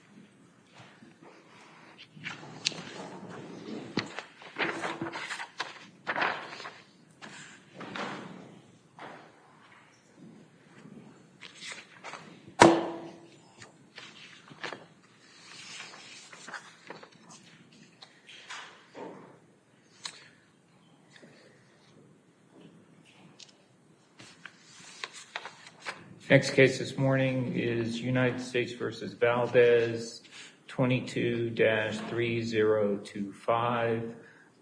v. Valdez, United States v. Valdez, United States v. Valdez, United States v. Valdez, 22-3025.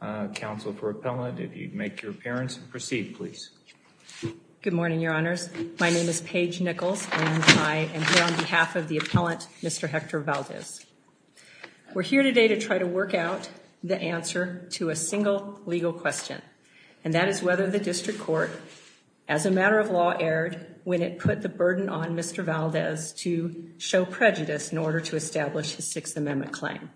Uh, counsel for appellate if you'd make your appearance and proceed please. Good morning Your Honors. My name is Paige Nichols and I am here on behalf of the appellant Mr. Hector Valdez. We're here today to try to work out the answer to a single legal question and that is whether the district court, as a matter of law, aired when it put the burden on Mr. Valdez to show prejudice in order to establish his Sixth Amendment claim.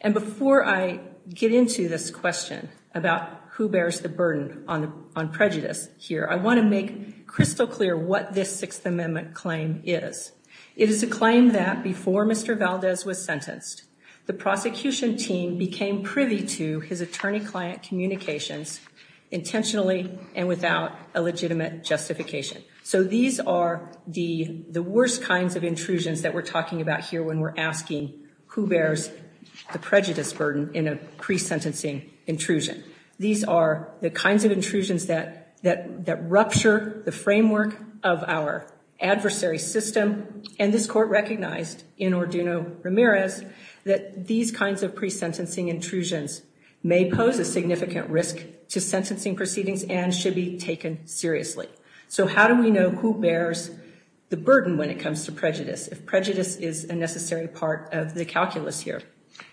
And before I get into this question about who bears the burden on prejudice here, I want to make crystal clear what this Sixth Amendment claim is. It is a claim that before Mr. Valdez was sentenced, the prosecution team became privy to his attorney-client communications intentionally and without a legitimate justification. So these are the worst kinds of intrusions that we're talking about here when we're asking who bears the prejudice burden in a pre-sentencing intrusion. These are the kinds of intrusions that rupture the framework of our adversary system and this court recognized in Orduno Ramirez that these kinds of pre-sentencing intrusions may pose a significant risk to sentencing proceedings and should be taken seriously. So how do we know who bears the burden when it comes to prejudice if prejudice is a necessary part of the calculus here?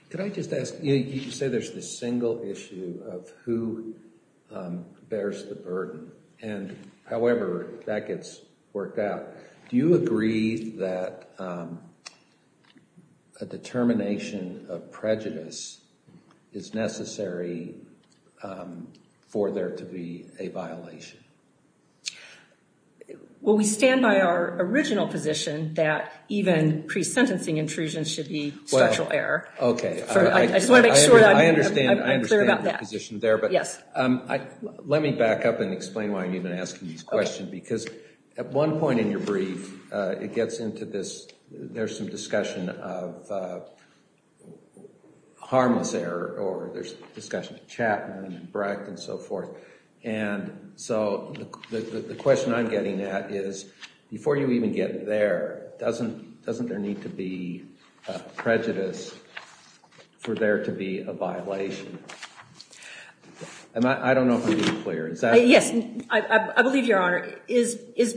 Could I just ask, you say there's this single issue of who bears the burden and however that gets worked out, do you agree that a determination of prejudice is necessary for there to be a violation? Well, we stand by our original position that even pre-sentencing intrusions should be structural error. Okay. I just want to make sure I'm clear about that. I understand your position there, but let me back up and explain why I'm even asking these questions because at one point in your brief, it gets into this, there's some discussion of harmless error or there's discussion of Chapman and Brecht and so forth and so the question I'm getting at is before you even get there, doesn't there need to be prejudice for there to be a violation? Is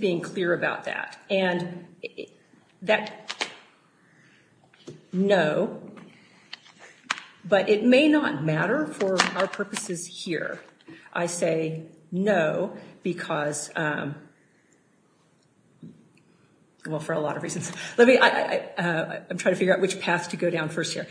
being clear about that. No, but it may not matter for our purposes here. I say no because, well, for a lot of reasons. I'm trying to figure out which path to go down first here.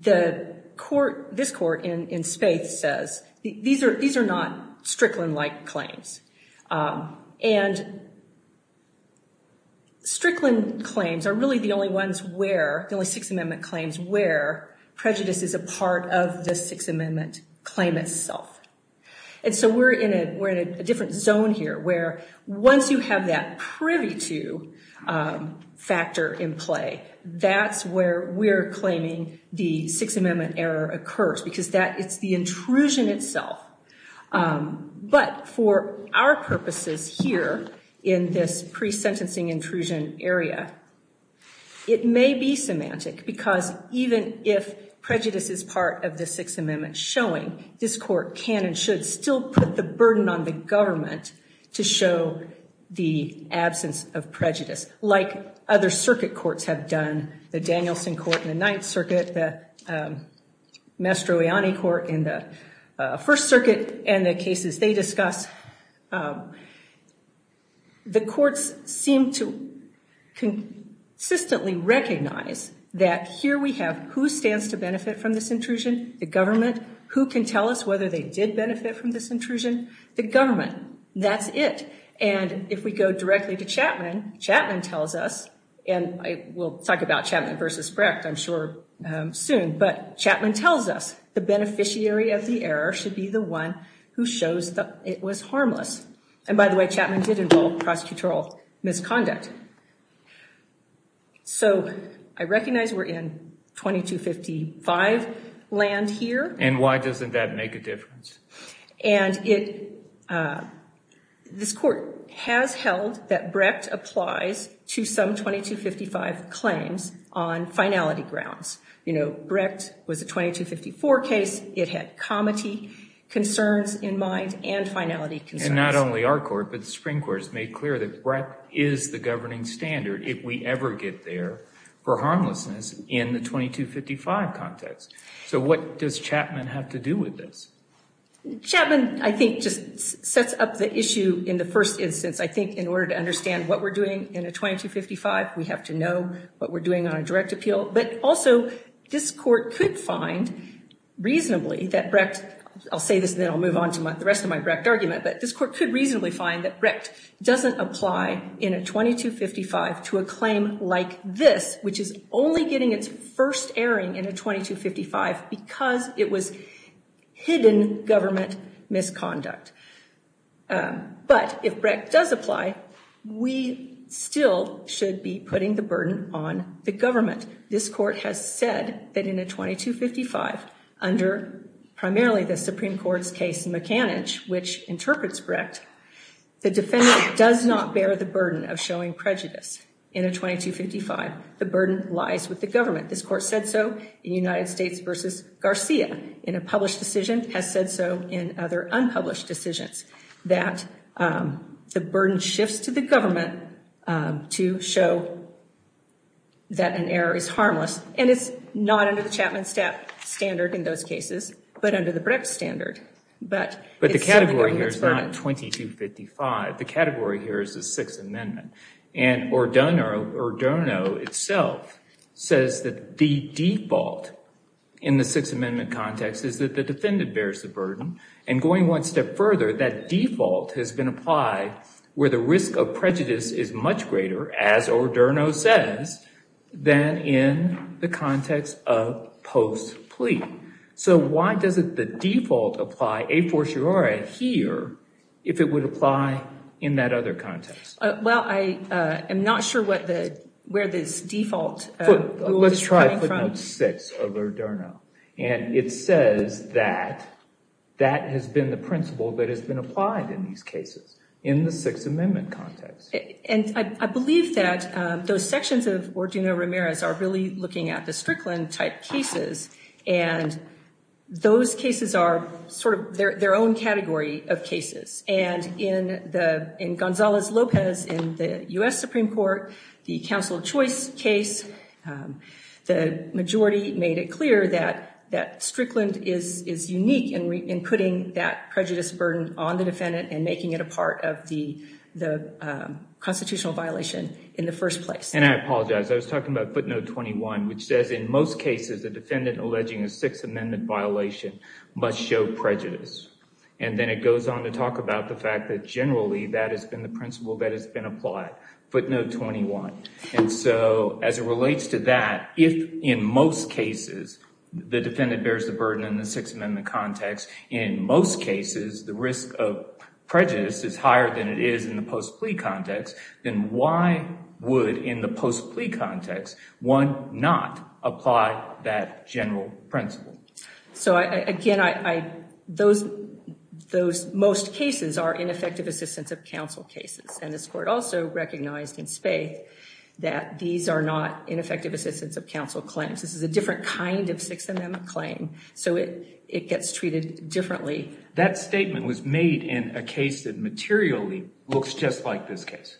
The court, this court in Spaith says these are not Strickland-like claims and Strickland claims are really the only ones where, the only Sixth Amendment claims where prejudice is a part of the Sixth Amendment claim itself and so we're in a different zone here where once you have that privy to factor in play, that's where we're claiming the Sixth Amendment error occurs because that it's the intrusion itself, but for our purposes here in this pre-sentencing intrusion area, it may be semantic because even if prejudice is part of the Sixth Amendment, it's not enough to show the absence of prejudice like other circuit courts have done, the Danielson Court in the Ninth Circuit, the Mastroianni Court in the First Circuit and the cases they discuss. The courts seem to consistently recognize that here we have who stands to benefit from this intrusion, the government, who can tell us whether they did benefit from this intrusion, the government. That's it and if we go directly to Chapman, Chapman tells us and we'll talk about Chapman versus Brecht I'm sure soon, but Chapman tells us the beneficiary of the error should be the one who shows that it was harmless and by the way, Chapman did involve prosecutorial misconduct. So I recognize we're in 2255 land here. And why doesn't that make a difference? And this court has held that Brecht applies to some 2255 claims on finality grounds. You know, Brecht was a 2254 case. It had comity concerns in mind and finality concerns. And not only our court, but the Supreme Court has made clear that Brecht is the governing standard if we ever get there for harmlessness in the 2255 context. So what does Chapman have to do with this? Chapman, I think, just sets up the issue in the first instance. I think in order to understand what we're doing in a 2255, we have to know what we're doing on a direct appeal. But also this court could find reasonably that Brecht, I'll say this then I'll move on to the rest of my Brecht argument, but this court could reasonably find that Brecht doesn't apply in a 2255 to a claim like this, which is only getting its first airing in a 2255 because it was hidden government misconduct. But if Brecht does apply, we still should be putting the burden on the government. This court has said that in a 2255 under primarily the Supreme Court's case mechanic, which interprets Brecht, the defendant does not bear the burden of showing prejudice in a 2255. The burden lies with the government. This court said so in United States versus Garcia in a published decision, has said so in other unpublished decisions that the burden shifts to the government to show that an error is harmless. And it's not under the Chapman standard in those cases, but under the Brecht standard. But the category here is not 2255. The category here is the Sixth Amendment. And Ordono itself says that the default in the Sixth Amendment context is that the defendant bears the burden. And going one step further, that default has been applied where the does it the default apply a fortiori here if it would apply in that other context? Well, I am not sure what the where this default. Let's try footnote six of Ordono. And it says that that has been the principle that has been applied in these cases in the Sixth Amendment context. And I believe that those sections of Ordono Ramirez are really looking at the Strickland type cases. And those cases are sort of their own category of cases. And in the in Gonzalez-Lopez in the U.S. Supreme Court, the counsel choice case, the majority made it clear that that Strickland is unique in putting that prejudice burden on the defendant and making it a part of the constitutional violation in the first place. And I apologize. I was talking about footnote 21, which says in most cases, the defendant alleging a Sixth Amendment violation must show prejudice. And then it goes on to talk about the fact that generally that has been the principle that has been applied, footnote 21. And so as it relates to that, if in most cases the defendant bears the burden in the Sixth Amendment context, in most cases the risk of prejudice is higher than it is in the post plea context. Why would in the post plea context one not apply that general principle? So again, those most cases are ineffective assistance of counsel cases. And this court also recognized in spate that these are not ineffective assistance of counsel claims. This is a different kind of Sixth Amendment claim. So it gets treated differently. That statement was made in a case that materially looks just like this case.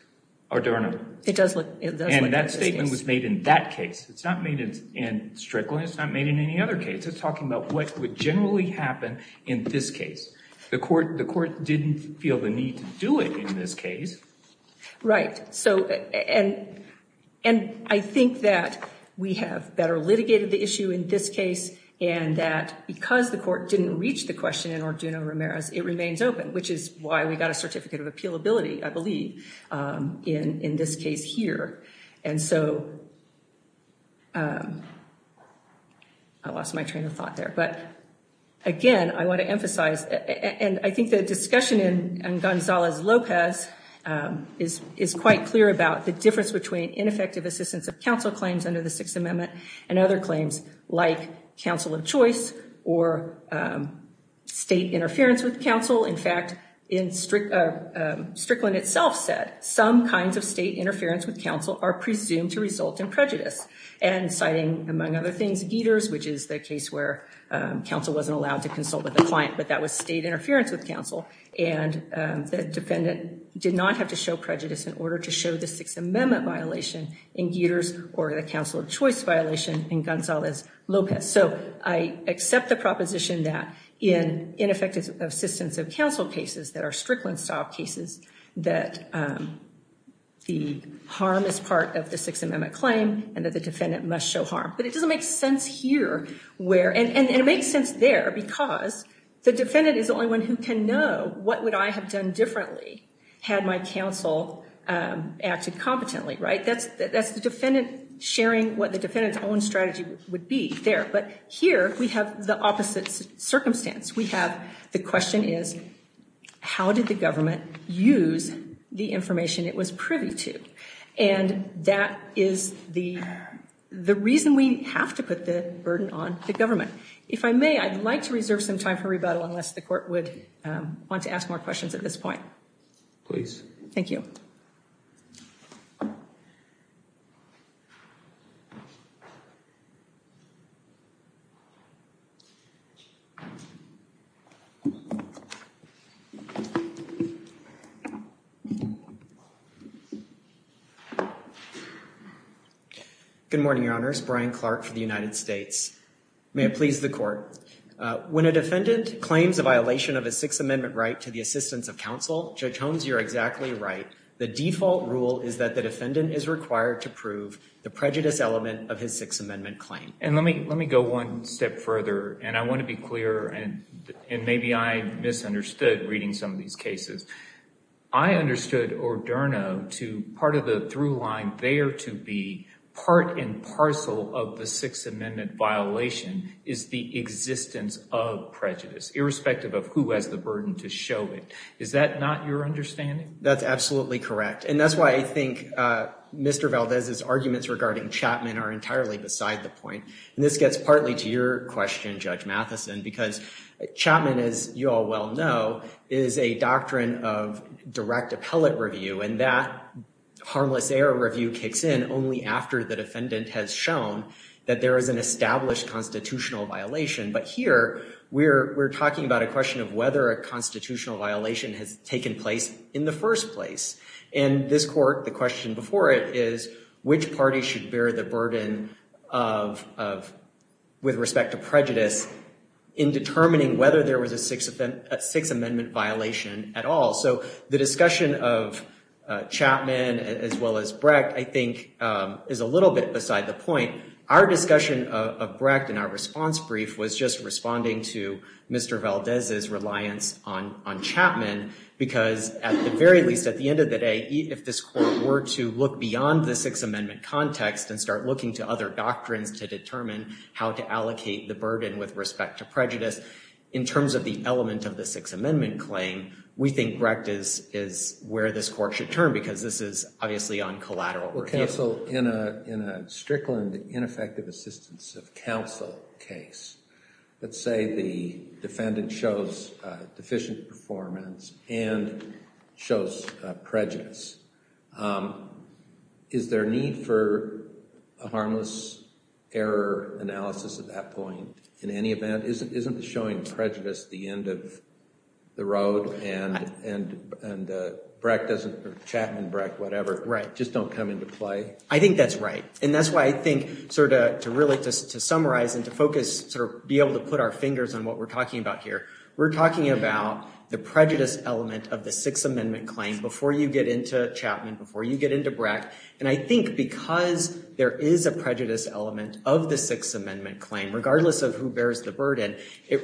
And that statement was made in that case. It's not made in Strickland. It's not made in any other case. It's talking about what would generally happen in this case. The court didn't feel the need to do it in this case. Right. And I think that we have better litigated the issue in this case and that because the court didn't reach the question in Orduno-Ramirez, it remains open, which is why we got a Certificate of Appealability, I believe, in this case here. And so I lost my train of thought there. But again, I want to emphasize, and I think the discussion in Gonzalez-Lopez is quite clear about the difference between ineffective assistance of Sixth Amendment and other claims like counsel of choice or state interference with counsel. In fact, Strickland itself said some kinds of state interference with counsel are presumed to result in prejudice. And citing, among other things, Geters, which is the case where counsel wasn't allowed to consult with a client, but that was state interference with counsel. And the defendant did not have to show prejudice in order to show the Sixth Amendment violation in Geters or the counsel of choice violation in Gonzalez-Lopez. So I accept the proposition that in ineffective assistance of counsel cases that are Strickland-style cases, that the harm is part of the Sixth Amendment claim and that the defendant must show harm. But it doesn't make sense here where, and it makes sense there because the defendant is the only one who can know what would I have done differently had my counsel acted competently, right? That's the defendant sharing what the defendant's own strategy would be there. But here we have the opposite circumstance. We have the question is, how did the government use the information it was privy to? And that is the reason we have to put the burden on the government. If I may, I'd like to reserve some time for rebuttal unless the court would want to ask more questions at this point. Please. Thank you. Good morning, Your Honors. Brian Clark for the United States. May it please the court. When a defendant claims a violation of a Sixth Amendment right to the assistance of counsel, Judge Holmes, you're exactly right. The default rule is that the defendant is required to prove the prejudice element of his Sixth Amendment claim. And let me go one step further, and I want to be clear, and maybe I misunderstood reading some of these cases. I understood Orderno to part of the through line there to be part and parcel of the Sixth Amendment violation is the existence of prejudice, irrespective of who has the burden to show it. Is that not your understanding? That's absolutely correct. And that's why I think Mr. Valdez's arguments regarding Chapman are entirely beside the point. And this gets partly to your question, Judge Matheson, because Chapman, as you all well know, is a doctrine of direct appellate review. And that harmless error review kicks in only after the defendant has shown that there is an established constitutional violation. But here, we're talking about a question of whether a constitutional violation has taken place in the first place. And this court, the question before it, is which party should bear the burden with respect to prejudice in determining whether there was a Sixth Amendment violation at all. So the discussion of Chapman, as well as Brecht, I think is a little bit beside the point. Our discussion of Brecht in our response brief was just responding to Mr. Valdez's reliance on Chapman, because at the very least, at the end of the day, if this court were to look beyond the Sixth Amendment context and start looking to other doctrines to determine how to allocate the burden with respect to prejudice, in terms of the element of the Sixth Amendment claim, we think Brecht is where this court should turn, because this is obviously on collateral review. Well, counsel, in a Strickland ineffective assistance of counsel case, let's say the defendant shows deficient performance and shows prejudice, is there need for a harmless error analysis at that point in any event? Isn't showing prejudice the end of the road and Brecht doesn't, Chapman, Brecht, whatever, just don't come into play? I think that's right. And that's why I think sort of to really just to summarize and to focus, sort of be able to put our fingers on what we're talking about here, we're talking about the prejudice element of the Sixth Amendment claim before you get into Chapman, before you get into Brecht. And I think because there is a prejudice element of the Sixth Amendment, it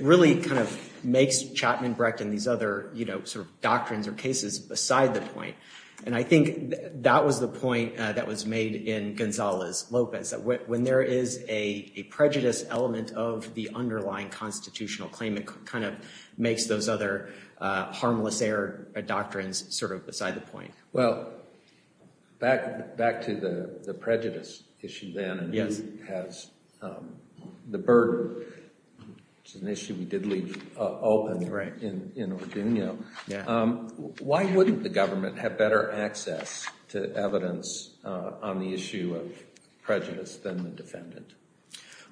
really kind of makes Chapman, Brecht, and these other, you know, sort of doctrines or cases beside the point. And I think that was the point that was made in Gonzalez, Lopez, that when there is a prejudice element of the underlying constitutional claim, it kind of makes those other harmless error doctrines sort of beside the point. Well, back to the prejudice issue then, and he has the burden. It's an issue we did leave open in Orduno. Why wouldn't the government have better access to evidence on the issue of prejudice than the defendant?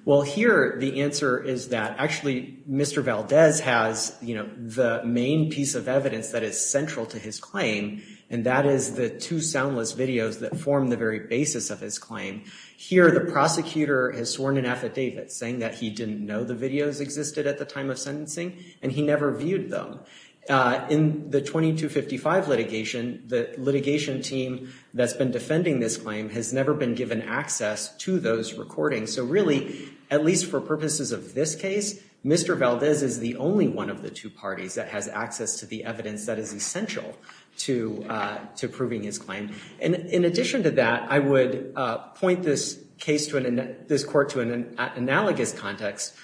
Well, here the answer is that actually Mr. Valdez has, you know, the main piece of evidence that is central to his claim, and that is the two soundless videos that form the very basis of his claim. Here the prosecutor has sworn an affidavit saying that he didn't know the videos existed at the time of sentencing, and he never viewed them. In the 2255 litigation, the litigation team that's been defending this claim has never been given access to those recordings. So really, at least for purposes of this case, Mr. Valdez is the only one of the two parties that has access to the evidence that is essential to proving his claim. And in addition to that, I would point this case to an analogous context,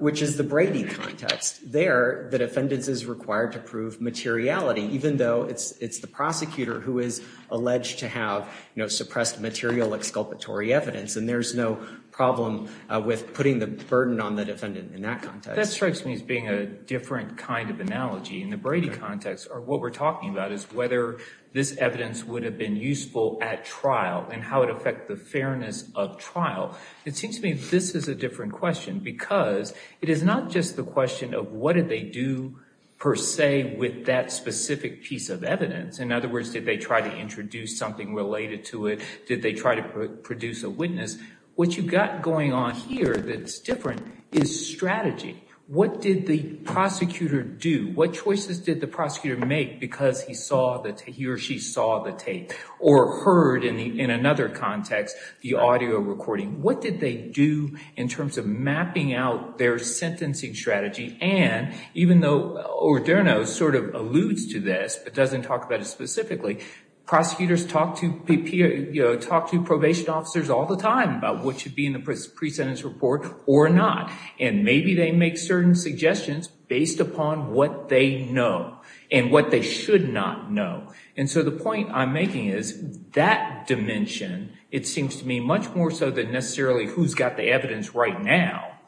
which is the Brady context. There the defendant is required to prove materiality, even though it's the prosecutor who is alleged to have, you know, suppressed material exculpatory evidence, and there's no problem with putting the burden on the defendant in that context. That strikes me as being a different kind of analogy. In the Brady context, what we're talking about is whether this evidence would have been useful at trial, and how it affects the fairness of trial. It seems to me this is a different question, because it is not just the question of what did they do per se with that specific piece of evidence. In other words, did they try to introduce something related to it? Did they try to produce a witness? What you've got going on here that's different is strategy. What did the prosecutor do? What choices did the prosecutor make because he or she saw the tape, or heard, in another context, the audio recording? What did they do in terms of mapping out their sentencing strategy? And even though Orderno sort of alludes to this, but doesn't talk about it specifically, prosecutors talk to probation officers all the time about what should be in the pre-sentence report or not, and maybe they make certain suggestions based upon what they know, and what they should not know. And so the point I'm making is that dimension, it seems to me, much more so than necessarily who's got the evidence right now,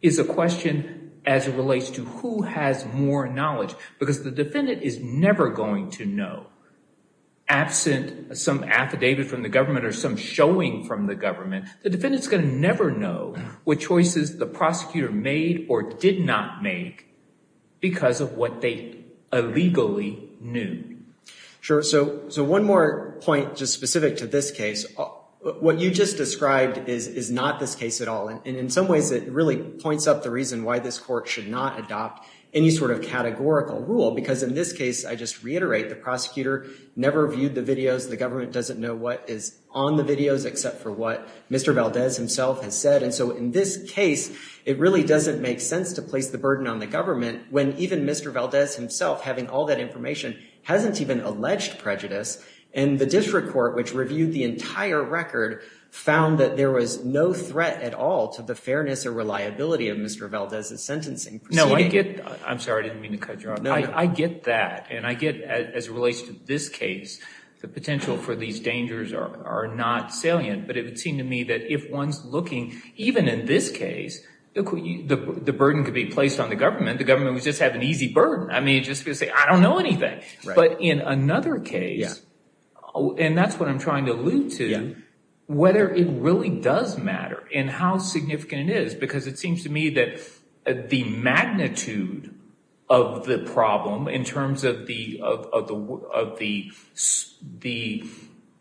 is a question as it relates to who has more knowledge. Because the defendant is never going to know, absent some affidavit from the government or some showing from the government, the defendant's going to never know what choices the prosecutor made or did not make because of what they illegally knew. Sure. So one more point just specific to this case, what you just described is not this case at all. And in some ways it really points up the reason why this court should not adopt any sort of categorical rule. Because in this case, I just reiterate, the prosecutor never viewed the videos. The government doesn't know what is on the videos except for what Mr. Valdez himself has said. And so in this case, it really doesn't make sense to place the burden on the government when even Mr. Valdez himself, having all that information, hasn't even alleged prejudice. And the district court, which reviewed the entire record, found that there was no threat at all to the fairness or reliability of Mr. Valdez's sentencing proceeding. I'm sorry, I didn't mean to cut you off. I get that. And I get, as it relates to this case, the potential for these dangers are not salient. But it would seem to me that if one's looking, even in this case, the burden could be placed on the government. The government would just have an easy burden. I mean, just to say, I don't know anything. But in another case, and that's what I'm trying to allude to, whether it really does matter and how significant it is. Because it seems to me that the magnitude of the problem in terms of the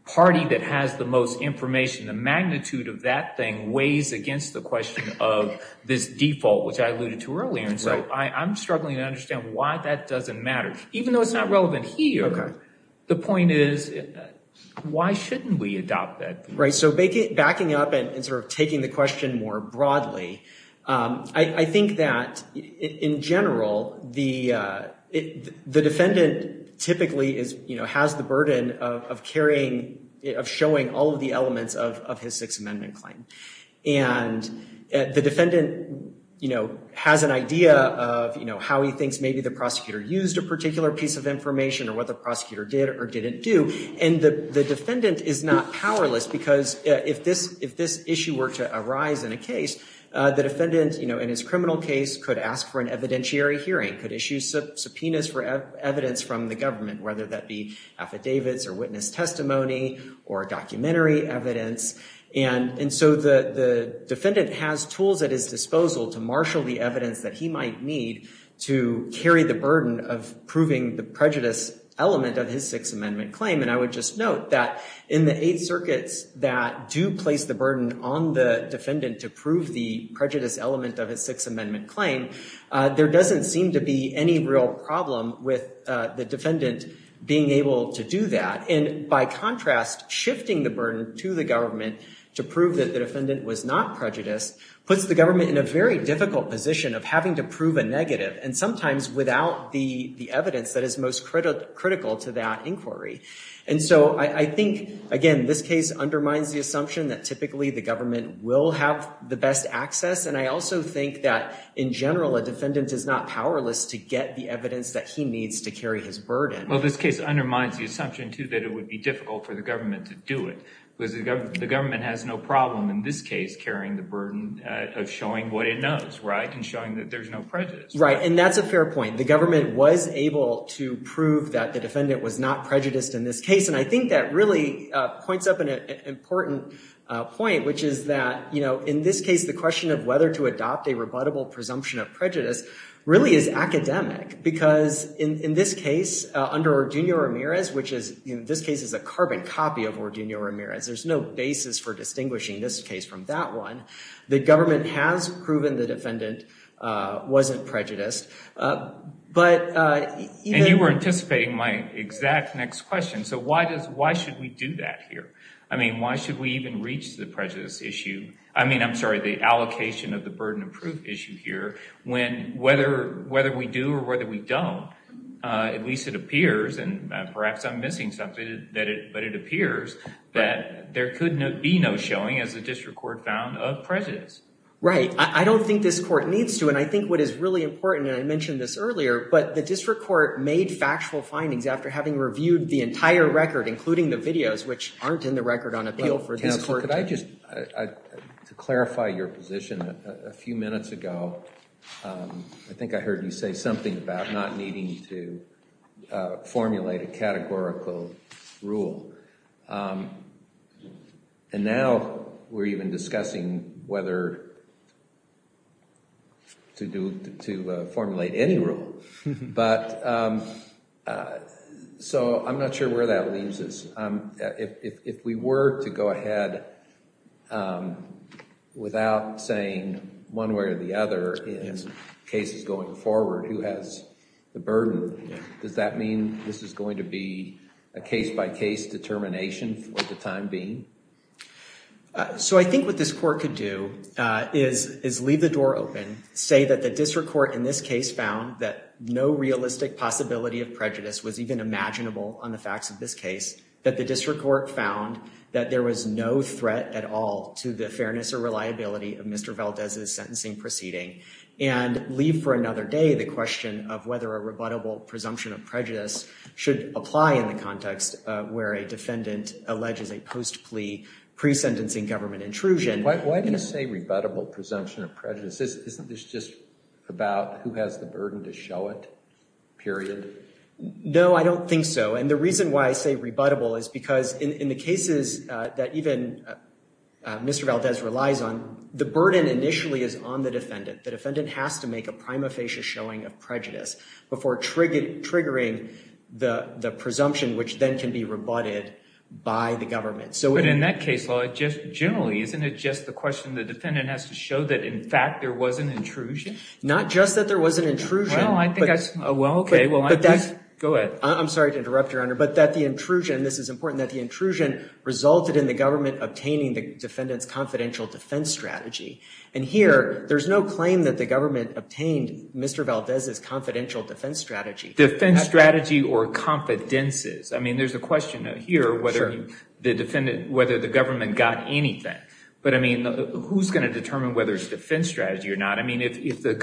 party that has the most information, the magnitude of that thing weighs against the question of this default, which I am struggling to understand why that doesn't matter. Even though it's not relevant here, the point is, why shouldn't we adopt that? Right. So backing up and sort of taking the question more broadly, I think that in general, the defendant typically has the burden of carrying, of showing all of the elements of his Sixth Amendment claim. And the defendant has an idea of how he thinks maybe the prosecutor used a particular piece of information or what the prosecutor did or didn't do. And the defendant is not powerless. Because if this issue were to arise in a case, the defendant in his criminal case could ask for an evidentiary hearing, could issue subpoenas for evidence from the government, whether that be affidavits or witness testimony or documentary evidence. And so the defendant has tools at his disposal to to carry the burden of proving the prejudice element of his Sixth Amendment claim. And I would just note that in the Eighth Circuits that do place the burden on the defendant to prove the prejudice element of his Sixth Amendment claim, there doesn't seem to be any real problem with the defendant being able to do that. And by contrast, shifting the burden to the government to prove that the defendant was not prejudiced puts the government in a very difficult position of having to prove a negative and sometimes without the evidence that is most critical to that inquiry. And so I think, again, this case undermines the assumption that typically the government will have the best access. And I also think that in general, a defendant is not powerless to get the evidence that he needs to carry his burden. Well, this case undermines the assumption, too, that it would be difficult for the government to do it because the government has no problem in this case carrying the burden of showing what it knows, right, and showing that there's no prejudice. Right. And that's a fair point. The government was able to prove that the defendant was not prejudiced in this case. And I think that really points up an important point, which is that, you know, in this case, the question of whether to adopt a rebuttable presumption of prejudice really is academic because in this case, under Orduño-Ramirez, which is, in this case, a carbon copy of Orduño-Ramirez, there's no basis for distinguishing this case from that one. The government has proven the defendant wasn't prejudiced. But... And you were anticipating my exact next question. So why should we do that here? I mean, why should we even reach the prejudice issue? I mean, I'm sorry, the allocation of the burden of proof issue here when whether we do or whether we don't, at least it appears, and perhaps I'm missing something, but it appears that there could be no showing, as the district court found, of prejudice. Right. I don't think this court needs to. And I think what is really important, and I mentioned this earlier, but the district court made factual findings after having reviewed the entire record, including the videos, which aren't in the record on appeal for this court to... Counsel, could I just, to clarify your position, a few minutes ago, I think I heard you say something about not needing to formulate a categorical rule. And now we're even discussing whether to formulate any rule. But... So I'm not sure where that leaves us. If we were to go ahead without saying one way or the other in cases going forward, who has the burden, does that mean this is going to be a case-by-case determination for the time being? So I think what this court could do is leave the door open, say that the district court in this case found that no realistic possibility of prejudice was even imaginable on the facts of this case, that the district court found that there was no threat at all to the fairness or reliability of Mr. Valdez's sentencing proceeding, and leave for another day the question of whether a rebuttable presumption of prejudice should apply in the context where a defendant alleges a post-plea pre-sentencing government intrusion. Why do you say rebuttable presumption of prejudice? Isn't this just about who has the burden to show it, period? No, I don't think so. And the reason why I say rebuttable is because in the cases that even Mr. Valdez relies on, the burden initially is on the defendant. The defendant has to make a prima facie showing of prejudice before triggering the presumption, which then can be rebutted by the government. So in that case, just generally, isn't it just the question the defendant has to show that, in fact, there was an intrusion? Not just that there was an intrusion. Oh, well, okay. Go ahead. I'm sorry to interrupt, Your Honor, but that the intrusion, this is important, that the intrusion resulted in the government obtaining the defendant's confidential defense strategy. And here, there's no claim that the government obtained Mr. Valdez's confidential defense strategy. Defense strategy or confidences. I mean, there's a question here whether the government got anything. But I mean, who's going to determine whether it's If the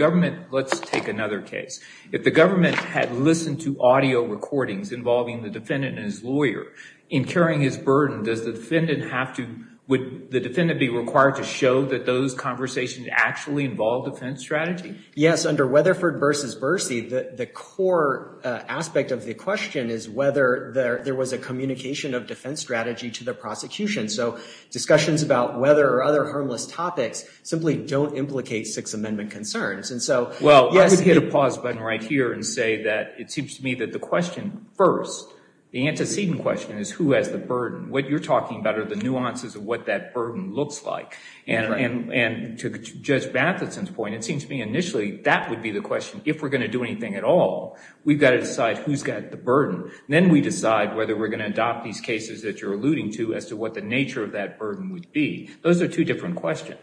government had listened to audio recordings involving the defendant and his lawyer, incurring his burden, does the defendant have to, would the defendant be required to show that those conversations actually involve defense strategy? Yes. Under Weatherford v. Bercy, the core aspect of the question is whether there was a communication of defense strategy to the prosecution. So discussions about weather or other harmless topics simply don't implicate Sixth Amendment concerns. Well, I would hit a pause button right here and say that it seems to me that the question first, the antecedent question, is who has the burden? What you're talking about are the nuances of what that burden looks like. And to Judge Matheson's point, it seems to me initially, that would be the question. If we're going to do anything at all, we've got to decide who's got the burden. Then we decide whether we're going to adopt these cases that you're alluding to as to what the nature of that burden would be. Those are two different questions.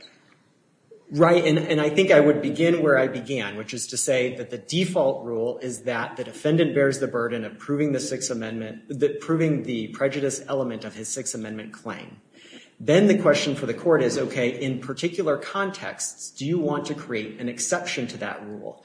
Right. And I think I would begin where I began, which is to say that the default rule is that the defendant bears the burden of proving the Sixth Amendment, proving the prejudice element of his Sixth Amendment claim. Then the question for the court is, okay, in particular contexts, do you want to create an exception to that rule?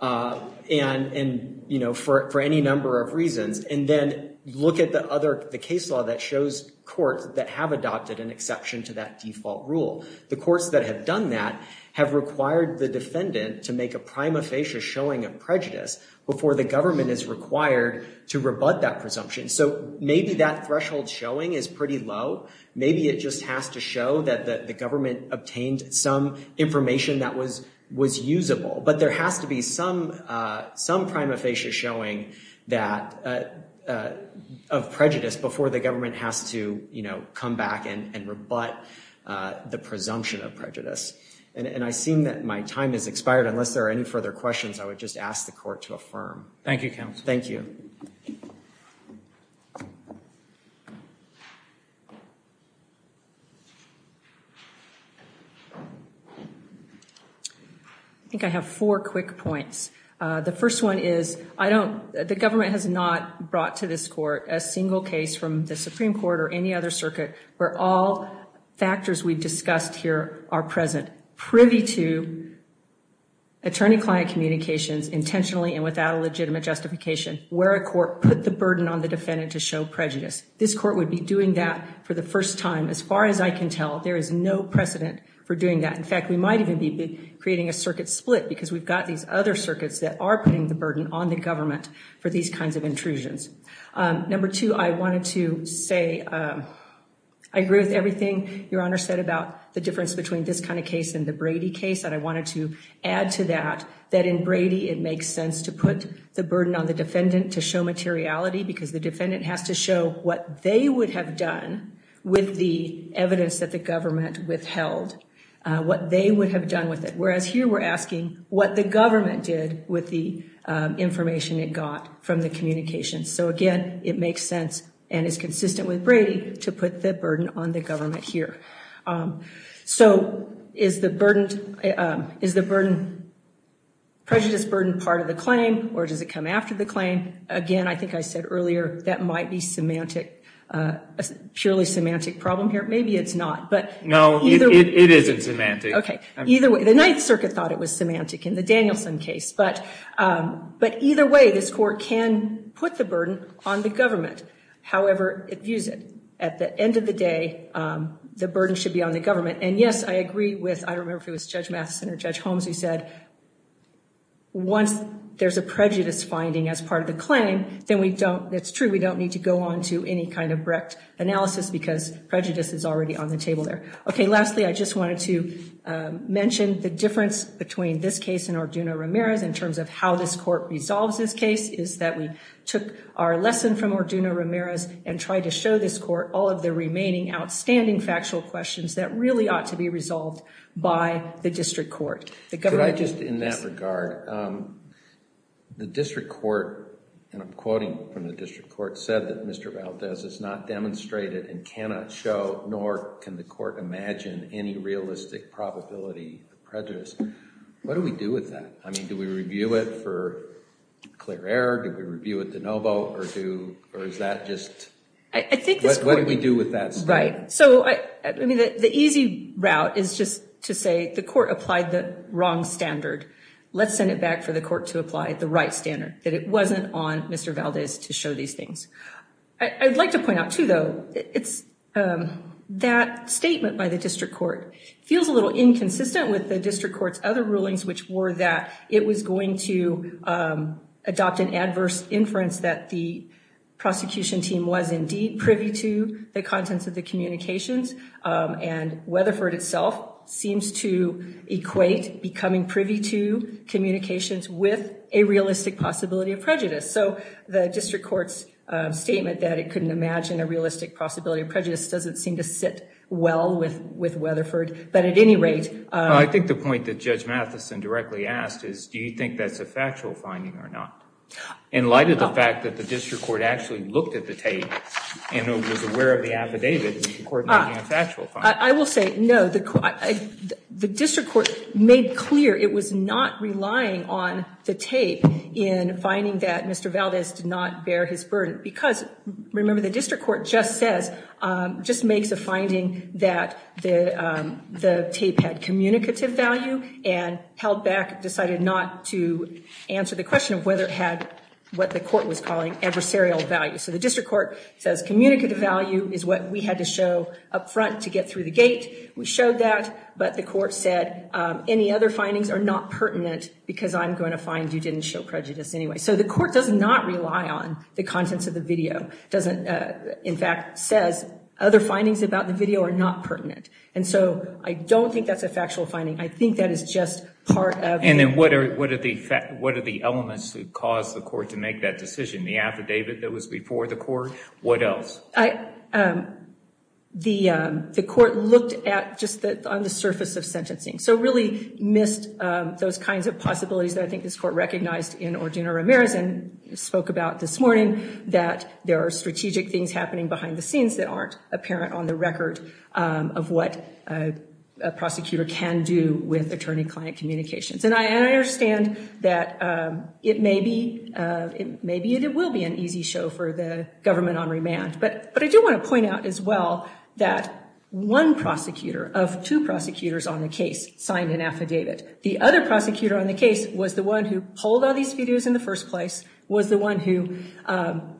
And, you know, for any number of reasons. And then look at the other, the case law that shows courts that have adopted an exception to that default rule. The courts that have done that have required the defendant to make a prima facie showing of prejudice before the government is required to rebut that presumption. So maybe that threshold showing is pretty low. Maybe it just has to show that the government obtained some information that was usable. But there has to be some prima facie showing that of prejudice before the government has to, you know, come back and rebut the presumption of prejudice. And I seem that my time has expired. Unless there are any further questions, I would just ask the court to affirm. Thank you, counsel. Thank you. I think I have four quick points. The first one is, I don't, the government has not brought to this court a single case from the Supreme Court or any other circuit where all factors we've discussed here are present, privy to attorney-client communications intentionally and without a legitimate justification, where a court put the burden on the defendant to show prejudice. This court would be doing that for the first time. As far as I can tell, there is no precedent for doing that. In fact, we might even be creating a circuit split because we've got these other circuits that are putting the burden on the government for these kinds of intrusions. Number two, I wanted to say, I agree with everything Your Honor said about the difference between this kind of case and the Brady case. And I wanted to add to that, that in Brady, it makes sense to put the burden on the defendant to show materiality because the defendant has to show what they would have done with the evidence that the government withheld, what they would have done with it. Whereas here, we're asking what the government did with the information it got from the communications. So again, it makes sense and is consistent with Brady to put the burden on the government here. So is the prejudice burden part of the claim or does it come after the claim? Again, I think I said earlier, that might be a purely semantic problem here. Maybe it's not, but no, it isn't semantic. Okay, either way, the Ninth Circuit thought it was semantic in the Danielson case. But either way, this court can put the burden on the government, however it views it. At the end of the day, the burden should be on the government. And yes, I agree with, I don't remember if it was Judge Matheson or Judge Holmes who said, once there's a prejudice finding as part of the claim, then we don't, it's true, we don't need to go on to any kind of Brecht analysis because prejudice is already on the table there. Okay, lastly, I just wanted to mention the difference between this case and Orduno-Ramirez in terms of how this court resolves this case is that we took our lesson from Orduno-Ramirez and tried to show this court all of the remaining outstanding factual questions that really ought to be resolved by the district court. Could I just, in that regard, the district court, and I'm quoting from the district court, said that Mr. Valdez has not demonstrated and cannot show, nor can the court imagine, any realistic probability of prejudice. What do we do with that? I mean, do we review it for clear error? Do we review it de novo? Or do, or is that just, what do we do with that statement? Right, so I mean, the easy route is just to say the court applied the wrong standard. Let's send it back for the court to apply the right standard, that it wasn't on Mr. Valdez to show these things. I'd like to point out too, though, it's that statement by the district court feels a little inconsistent with the district court's other rulings, which were that it was going to adopt an adverse inference that the prosecution team was indeed privy to the contents of the communications, and Weatherford itself seems to equate becoming privy to communications with a realistic possibility of prejudice. So the district court's statement that it couldn't imagine a realistic possibility of prejudice doesn't seem to sit well with Weatherford, but at any rate. I think the point that Judge Matheson directly asked is, do you think that's a factual finding or not? In light of the fact that the district court actually looked at the tape and was aware of the affidavit, the court may have a factual finding. I will say, no, the district court made clear it was not relying on the tape in finding that Mr. Valdez did not bear his burden because, remember, the district court just says, just makes a finding that the tape had communicative value and held back, decided not to answer the question of whether it had what the court was calling adversarial value. So the district court says communicative value is what we had to show up front to get through the gate. We showed that, but the court said, any other findings are not pertinent because I'm going to find you didn't show prejudice anyway. So the court does not rely on the contents of the video. It doesn't, in fact, says other findings about the video are not pertinent. And so I don't think that's a factual finding. I think that is just part of it. And then what are the elements that caused the court to make that decision? The affidavit that was before the court? What else? The court looked at just on the surface of sentencing. So really missed those kinds of possibilities that I think this court recognized in Ordino-Ramirez and spoke about this morning, that there are strategic things happening behind the scenes that aren't apparent on the record of what a prosecutor can do with attorney-client communications. And I understand that it may be, it will be an easy show for the government on remand. But I do want to point out as well that one prosecutor of two prosecutors on the case signed an affidavit. The other prosecutor on the case was the one who pulled all these videos in the first place, was the one who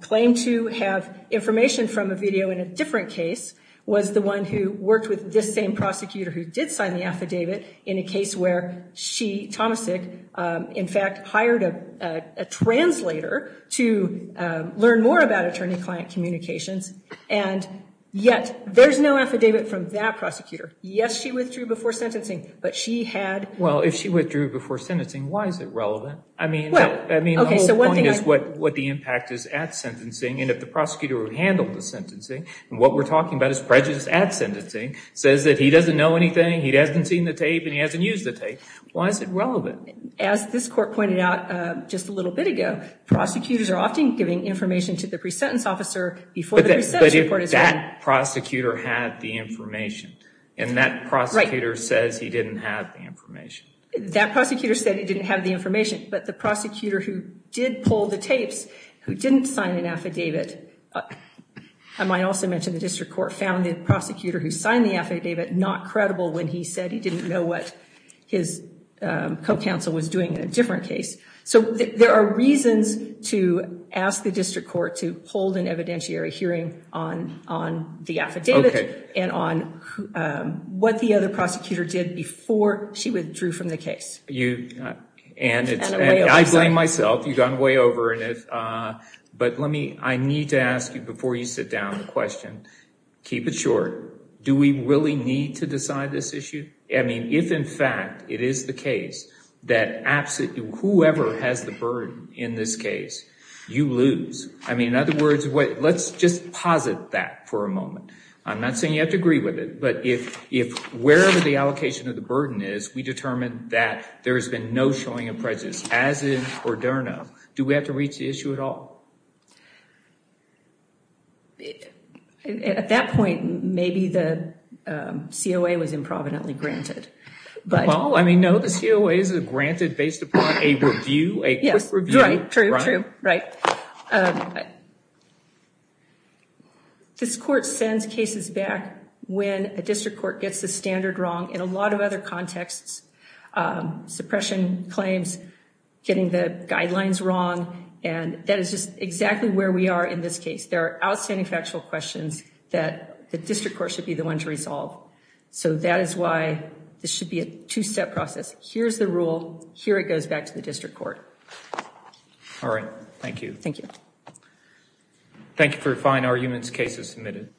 claimed to have information from a video in a different case, was the one who worked with this same prosecutor who did sign the affidavit in a case where she, Tomasik, in fact hired a translator to learn more about attorney-client communications. And yet there's no affidavit from that prosecutor. Yes, she withdrew before sentencing, but she had... Well, if she withdrew before sentencing, why is it relevant? I mean, the whole point is what the impact is at sentencing. And if the prosecutor who handled the sentencing, and what we're talking about is prejudice at sentencing, says that he doesn't know anything, he hasn't seen the tape, and he hasn't used the tape, why is it relevant? As this court pointed out just a little bit ago, prosecutors are often giving information to the pre-sentence officer before the pre-sentence report is done. But if that prosecutor had the information, and that prosecutor says he didn't have the information. That prosecutor said he didn't have the information, but the prosecutor who did pull the tapes, who didn't sign an affidavit, I might also mention the district court found the prosecutor who signed the affidavit not credible when he said he didn't know what his co-counsel was doing in a different case. So there are reasons to ask the district court to hold an evidentiary hearing on the affidavit, and on what the other prosecutor did before she withdrew from the case. And it's... I blame myself, you've gone way over. But let me... I need to ask you before you sit down the question, keep it short, do we really need to decide this issue? I mean, if in fact it is the case that absolutely whoever has the burden in this case, you lose. I mean, in other words, let's just posit that for a moment. I'm not saying you have to agree with it, but if wherever the allocation of the burden is, we determine that there has been no showing of prejudice as in the case itself, at that point, maybe the COA was improvidently granted. Well, I mean, no, the COA isn't granted based upon a review, a quick review. Yes, right, true, true, right. This court sends cases back when a district court gets the standard wrong in a lot of other cases. And that's exactly where we are in this case. There are outstanding factual questions that the district court should be the one to resolve. So that is why this should be a two-step process. Here's the rule, here it goes back to the district court. All right, thank you. Thank you. Thank you for your fine arguments cases submitted. Thank you.